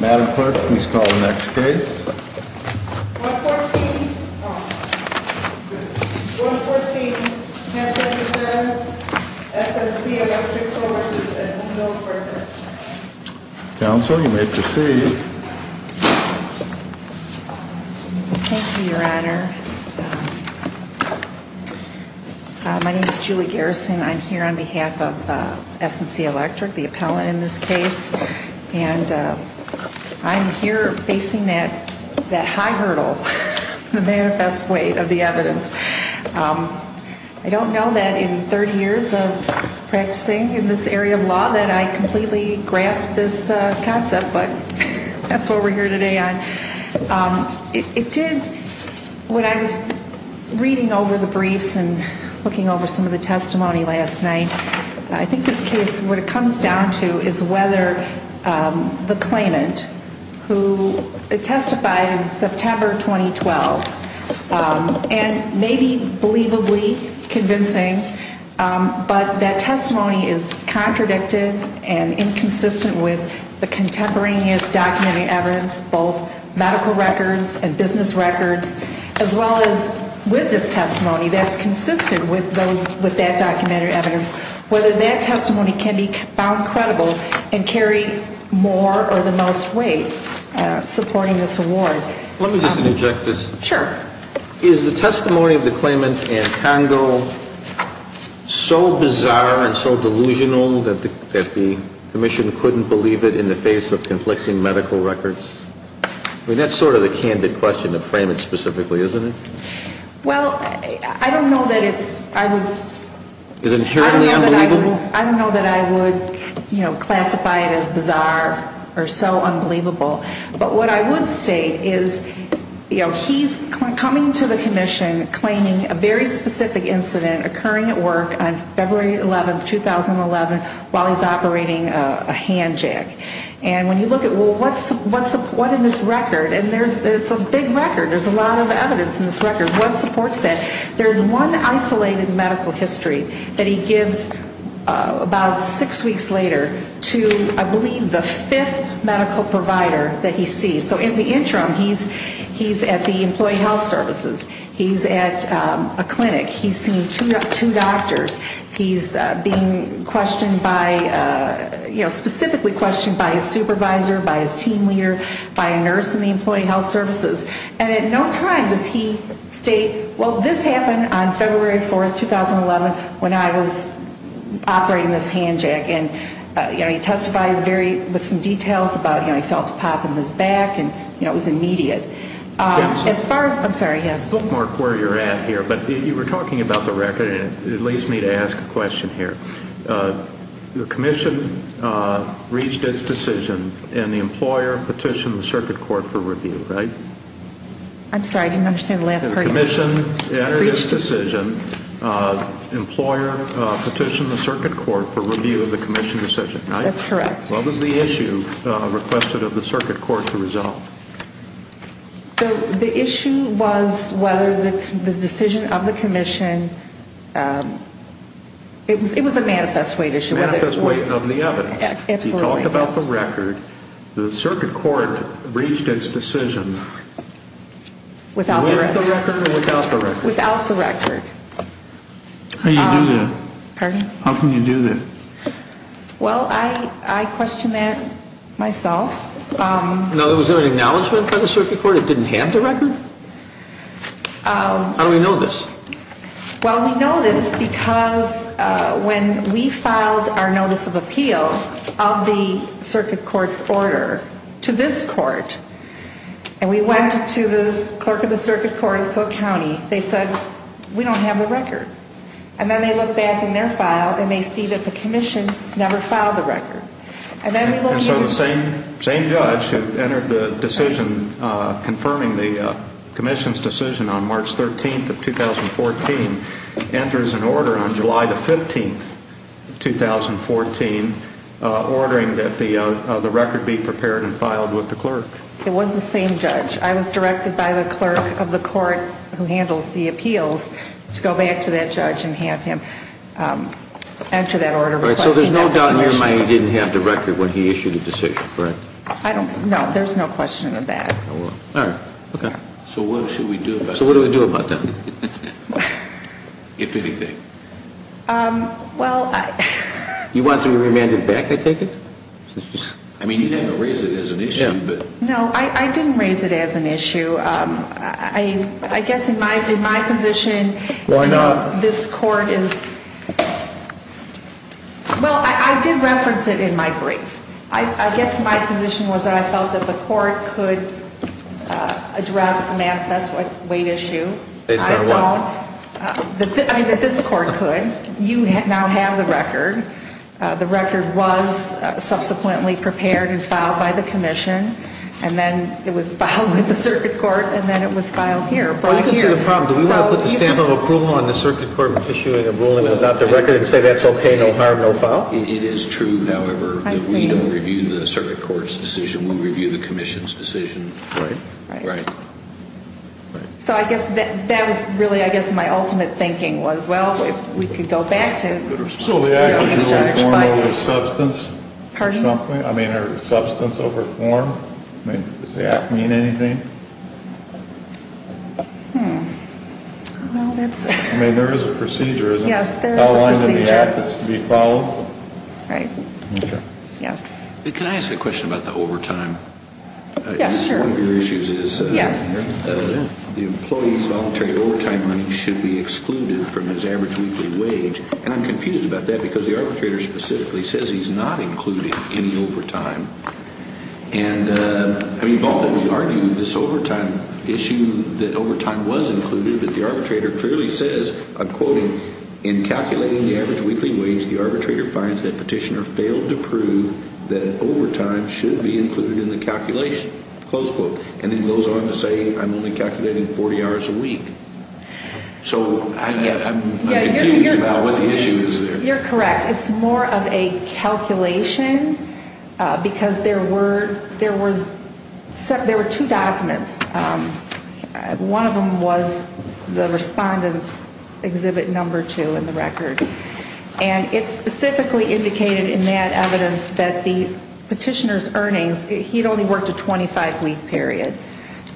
Madam Clerk, please call the next case. 114. 114. Counsel, you may proceed. Thank you, Your Honor. My name is Julie Garrison. I'm here on behalf of S&C Electric, the appellant in this case. And I'm here facing that high hurdle, the manifest weight of the evidence. I don't know that in 30 years of practicing in this area of law that I completely grasped this concept, but that's what we're here today on. It did, when I was reading over the briefs and looking over some of the testimony last night, I think this case, what it comes down to is whether the claimant who testified in September 2012, and maybe believably convincing, but that testimony is contradicted and inconsistent with the contemporaneous documented evidence, both medical records and business records, as well as witness testimony that's consistent with that documented evidence. Whether that testimony can be found credible and carry more or the most weight supporting this award. Let me just interject this. Sure. Is the testimony of the claimant in Congo so bizarre and so delusional that the commission couldn't believe it in the face of conflicting medical records? I mean, that's sort of the candid question to frame it specifically, isn't it? Well, I don't know that it's, I would... Is it inherently unbelievable? I don't know that I would, you know, classify it as bizarre or so unbelievable, but what I would state is, you know, he's coming to the commission claiming a very specific incident occurring at work on February 11, 2011, while he's operating a hand jack. And when you look at, well, what's in this record, and it's a big record, there's a lot of evidence in this record, what supports that? There's one isolated medical history that he gives about six weeks later to, I believe, the fifth medical provider that he sees. So in the interim, he's at the employee health services. He's at a clinic. He's seen two doctors. He's being questioned by, you know, specifically questioned by his supervisor, by his team leader, by a nurse in the employee health services. And at no time does he state, well, this happened on February 4, 2011, when I was operating this hand jack. And, you know, he testifies very, with some details about, you know, he felt a pop in his back, and, you know, it was immediate. As far as, I'm sorry, yes? Bookmark where you're at here, but you were talking about the record, and it leads me to ask a question here. The commission reached its decision, and the employer petitioned the circuit court for review, right? I'm sorry, I didn't understand the last part. The commission entered its decision. Employer petitioned the circuit court for review of the commission decision, right? That's correct. What was the issue requested of the circuit court to resolve? The issue was whether the decision of the commission, it was a manifest weight issue. Manifest weight of the evidence. Absolutely. When you talk about the record, the circuit court reached its decision. Without the record? Without the record. Without the record. How do you do that? Pardon? How can you do that? Well, I question that myself. Now, was there an acknowledgment by the circuit court it didn't have the record? How do we know this? Well, we know this because when we filed our notice of appeal of the circuit court's order to this court, and we went to the clerk of the circuit court in Cook County, they said, we don't have the record. And then they look back in their file, and they see that the commission never filed the record. And so the same judge who entered the decision confirming the commission's decision on March 13th of 2014 enters an order on July 15th of 2014 ordering that the record be prepared and filed with the clerk. It was the same judge. I was directed by the clerk of the court who handles the appeals to go back to that judge and have him enter that order. All right, so there's no doubt in your mind he didn't have the record when he issued the decision, correct? No, there's no question of that. All right, okay. So what should we do about that? So what do we do about that? If anything. Well, I... You want to be remanded back, I take it? I mean, you didn't raise it as an issue, but... No, I didn't raise it as an issue. I guess in my position... Why not? This court is... Well, I did reference it in my brief. I guess my position was that I felt that the court could address the manifest weight issue. Based on what? I mean, that this court could. You now have the record. The record was subsequently prepared and filed by the commission. And then it was filed with the circuit court, and then it was filed here, brought here. Well, you can see the problem. Do we want to put the stamp of approval on the circuit court issuing a ruling about the record and say that's okay, no harm, no foul? It is true, however, that we don't review the circuit court's decision. We review the commission's decision. Right. So I guess that was really, I guess, my ultimate thinking was, well, if we could go back to... So the action was form over substance? Pardon? I mean, substance over form? Does that mean anything? Hmm. Well, that's... I mean, there is a procedure, isn't it? Yes, there is a procedure. Outlined in the act that's to be followed? Right. Okay. Yes. Can I ask a question about the overtime? Yes, sure. One of your issues is... Yes. The employee's voluntary overtime should be excluded from his average weekly wage. And I'm confused about that because the arbitrator specifically says he's not including any overtime. And, I mean, both of you argue this overtime issue, that overtime was included, but the arbitrator clearly says, I'm quoting, in calculating the average weekly wage, the arbitrator finds that petitioner failed to prove that overtime should be included in the calculation. Close quote. And then goes on to say, I'm only calculating 40 hours a week. So I'm confused about what the issue is there. You're correct. It's more of a calculation because there were two documents. One of them was the Respondent's Exhibit No. 2 in the record. And it specifically indicated in that evidence that the petitioner's earnings, he'd only worked a 25-week period,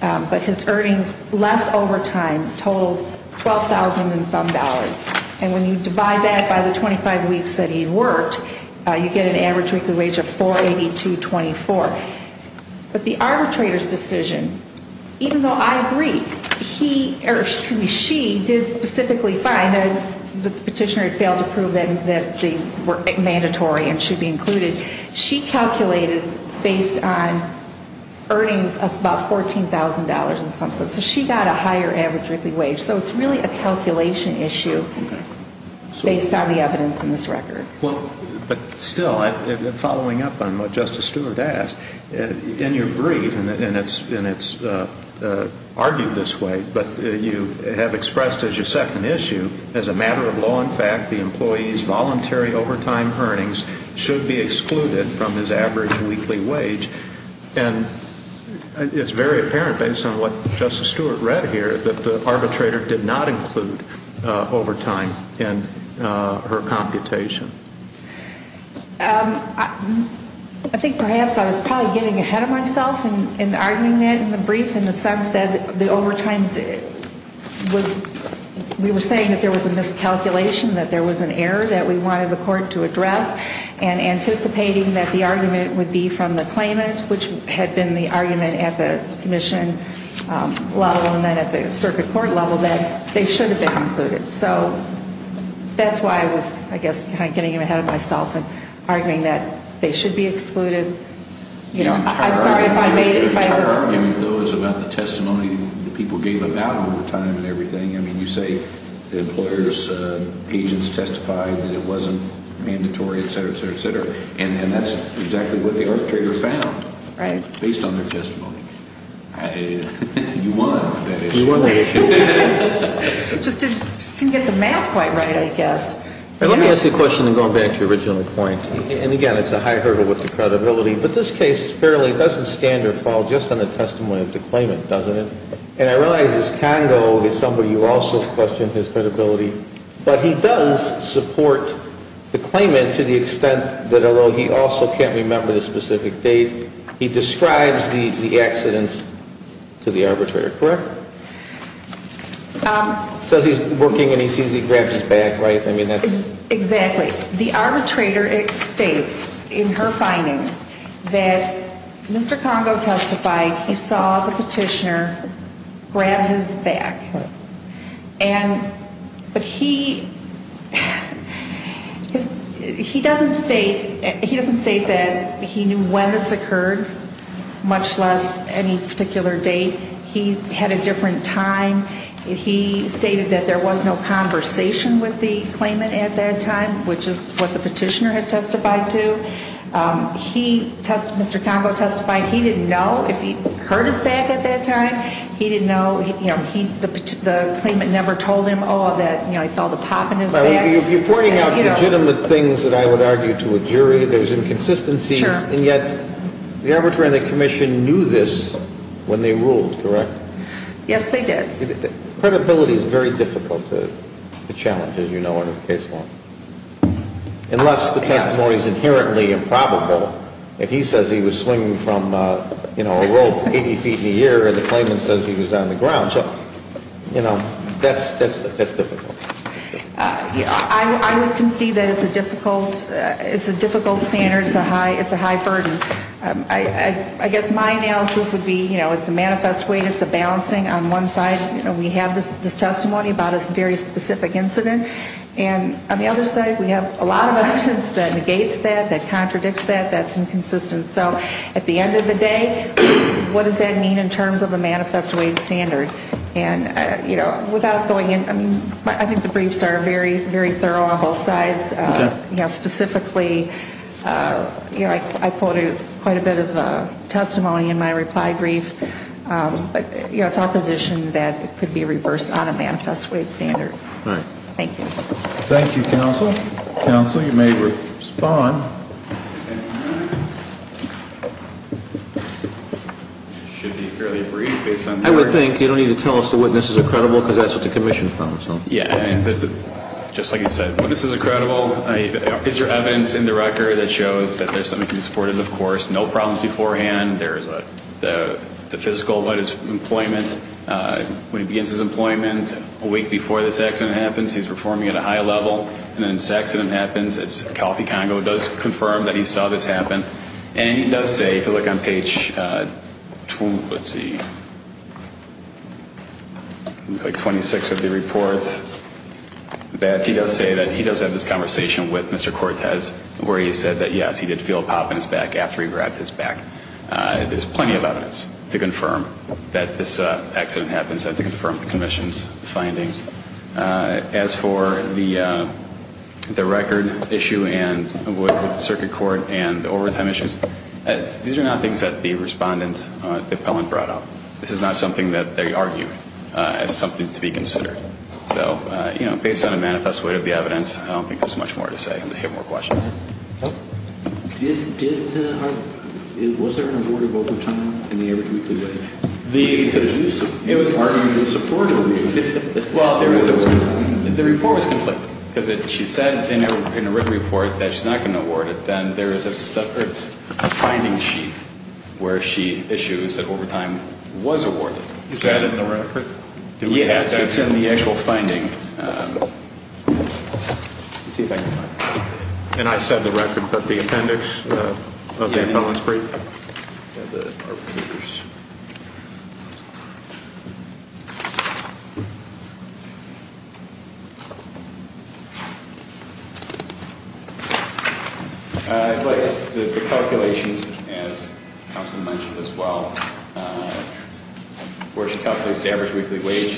but his earnings less overtime totaled $12,000 and some dollars. And when you divide that by the 25 weeks that he worked, you get an average weekly wage of $482.24. But the arbitrator's decision, even though I agree, he, or excuse me, she, did specifically find that the petitioner had failed to prove that they were mandatory and should be included, she calculated based on earnings of about $14,000 and some. So she got a higher average weekly wage. So it's really a calculation issue based on the evidence in this record. Well, but still, following up on what Justice Stewart asked, in your brief, and it's argued this way, but you have expressed as your second issue, as a matter of law and fact, the employee's voluntary overtime earnings should be excluded from his average weekly wage. And it's very apparent, based on what Justice Stewart read here, that the arbitrator did not include overtime in her computation. I think perhaps I was probably getting ahead of myself in the argument in the brief in the sense that the overtime was, we were saying that there was a miscalculation, that there was an error that we wanted the court to address, and anticipating that the argument would be from the claimant, which had been the argument at the commission, let alone then at the circuit court level, that they should have been included. So that's why I was, I guess, kind of getting ahead of myself and arguing that they should be excluded. You know, I'm sorry if I made it. I mean, you say the employer's agents testified that it wasn't mandatory, et cetera, et cetera, et cetera. And that's exactly what the arbitrator found. Right. Based on their testimony. You won that issue. You won that issue. Just didn't get the math quite right, I guess. Let me ask you a question, then going back to your original point. And again, it's a high hurdle with the credibility. But this case fairly doesn't stand or fall just on the testimony of the claimant, doesn't it? And I realize this Congo is somebody who also questioned his credibility. But he does support the claimant to the extent that although he also can't remember the specific date, he describes the accident to the arbitrator, correct? Says he's working and he sees he grabs his bag, right? Exactly. The arbitrator states in her findings that Mr. Congo testified he saw the petitioner grab his bag. And, but he, he doesn't state, he doesn't state that he knew when this occurred, much less any particular date. He had a different time. He stated that there was no conversation with the claimant at that time, which is what the petitioner had testified to. He, Mr. Congo testified he didn't know if he heard his bag at that time. He didn't know, you know, he, the claimant never told him, oh, that, you know, he felt a pop in his bag. You're pointing out legitimate things that I would argue to a jury. There's inconsistencies. Sure. And yet the arbitrator and the commission knew this when they ruled, correct? Yes, they did. Credibility is very difficult to challenge, as you know, under the case law. Yes. Unless the testimony is inherently improbable. If he says he was swinging from, you know, a rope 80 feet in a year and the claimant says he was on the ground. So, you know, that's difficult. I would concede that it's a difficult, it's a difficult standard. It's a high, it's a high burden. I guess my analysis would be, you know, it's a manifest weight, it's a balancing on one side. You know, we have this testimony about a very specific incident. And on the other side, we have a lot of evidence that negates that, that contradicts that, that's inconsistent. So at the end of the day, what does that mean in terms of a manifest weight standard? And, you know, without going in, I mean, I think the briefs are very, very thorough on both sides. Okay. But, you know, specifically, you know, I quoted quite a bit of testimony in my reply brief. But, you know, it's our position that it could be reversed on a manifest weight standard. All right. Thank you. Thank you, counsel. Counsel, you may respond. It should be fairly brief based on. I would think. You don't need to tell us the witness is a credible because that's what the commission found. Yeah. And just like you said, this is a credible. Is there evidence in the record that shows that there's something to be supported? Of course. No problems beforehand. There is the physical. What is employment? When he begins his employment a week before this accident happens, he's performing at a high level. And then this accident happens. It's coffee. Congo does confirm that he saw this happen. And he does say, if you look on page two, let's see. Like 26 of the reports that he does say that he does have this conversation with Mr. Cortez, where he said that, yes, he did feel a pop in his back after he grabbed his back. There's plenty of evidence to confirm that this accident happens and to confirm the commission's findings. As for the the record issue and circuit court and overtime issues, these are not things that the respondent appellant brought up. This is not something that they argue as something to be considered. So, you know, based on a manifest way of the evidence, I don't think there's much more to say. And if you have more questions. Did the. Was there an award of overtime in the average weekly wage? The. It was hard to support. Well, the report was conflicted because she said in a written report that she's not going to award it. Then there is a separate finding sheet where she issues that overtime was awarded. Is that in the record? Yes, it's in the actual finding. See if I can. And I said the record, but the appendix of the appellant's brief. The. But the calculations, as Councilman mentioned as well. Where she calculates the average weekly wage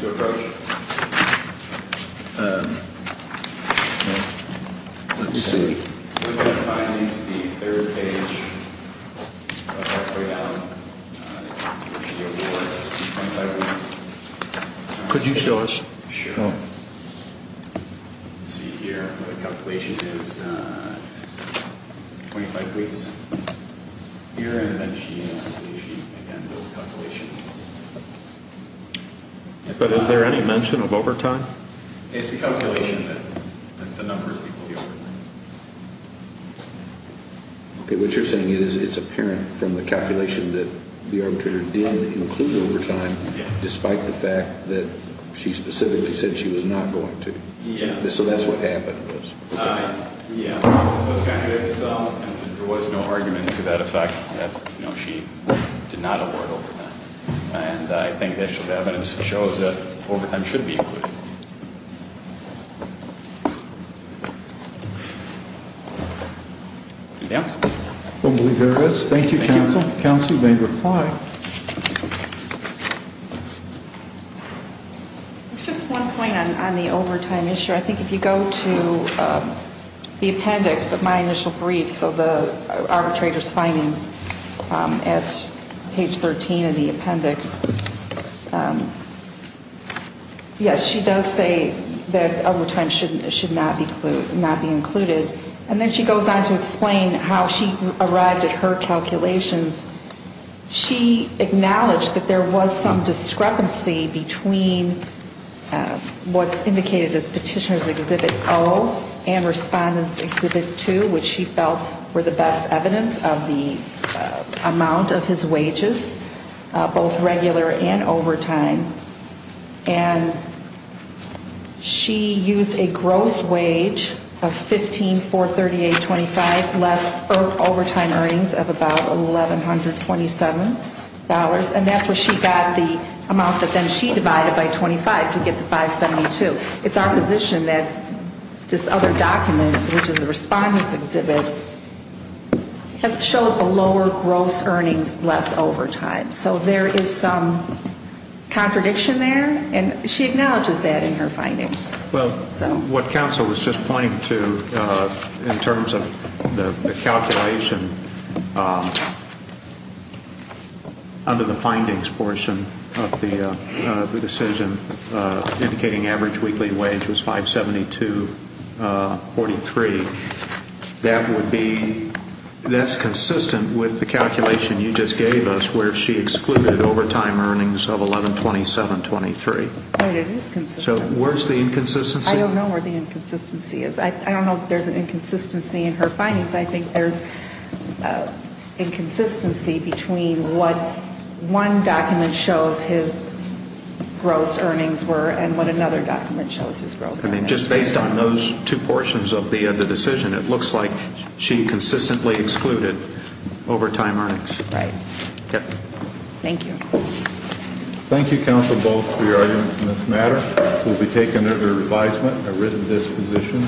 to approach. Let's see. Could you show us? Sure. See here. The calculation is. Twenty five weeks. You're in. Again, those calculations. But is there any mention of overtime? It's the calculation that the numbers. OK, what you're saying is it's apparent from the calculation that the arbitrator didn't include overtime, despite the fact that she specifically said she was not going to. So that's what happened. Yeah. There was no argument to that effect. No, she did not. And I think that shows that overtime should be. Yes, there is. Thank you. Counsel may reply. It's just one point on the overtime issue. I think if you go to the appendix of my initial brief, so the arbitrator's findings at page 13 of the appendix. Yes, she does say that overtime shouldn't should not be not be included. And then she goes on to explain how she arrived at her calculations. She acknowledged that there was some discrepancy between what's indicated as Petitioner's Exhibit 0 and Respondent's Exhibit 2, which she felt were the best evidence of the amount of his wages, both regular and overtime. And she used a gross wage of $15,438.25, less overtime earnings of about $1,127, and that's where she got the amount that then she divided by $25 to get to $572. It's our position that this other document, which is the Respondent's Exhibit, shows the lower gross earnings, less overtime. So there is some contradiction there, and she acknowledges that in her findings. Well, what counsel was just pointing to in terms of the calculation under the findings portion of the decision indicating average weekly wage was $572.43, that's consistent with the calculation you just gave us where she excluded overtime earnings of $1,127.23. It is consistent. So where's the inconsistency? I don't know where the inconsistency is. I don't know if there's an inconsistency in her findings. I think there's inconsistency between what one document shows his gross earnings were and what another document shows his gross earnings were. I mean, just based on those two portions of the decision, it looks like she consistently excluded overtime earnings. Thank you. Thank you, counsel, both for your arguments in this matter. We'll be taking it under revision at written disposition.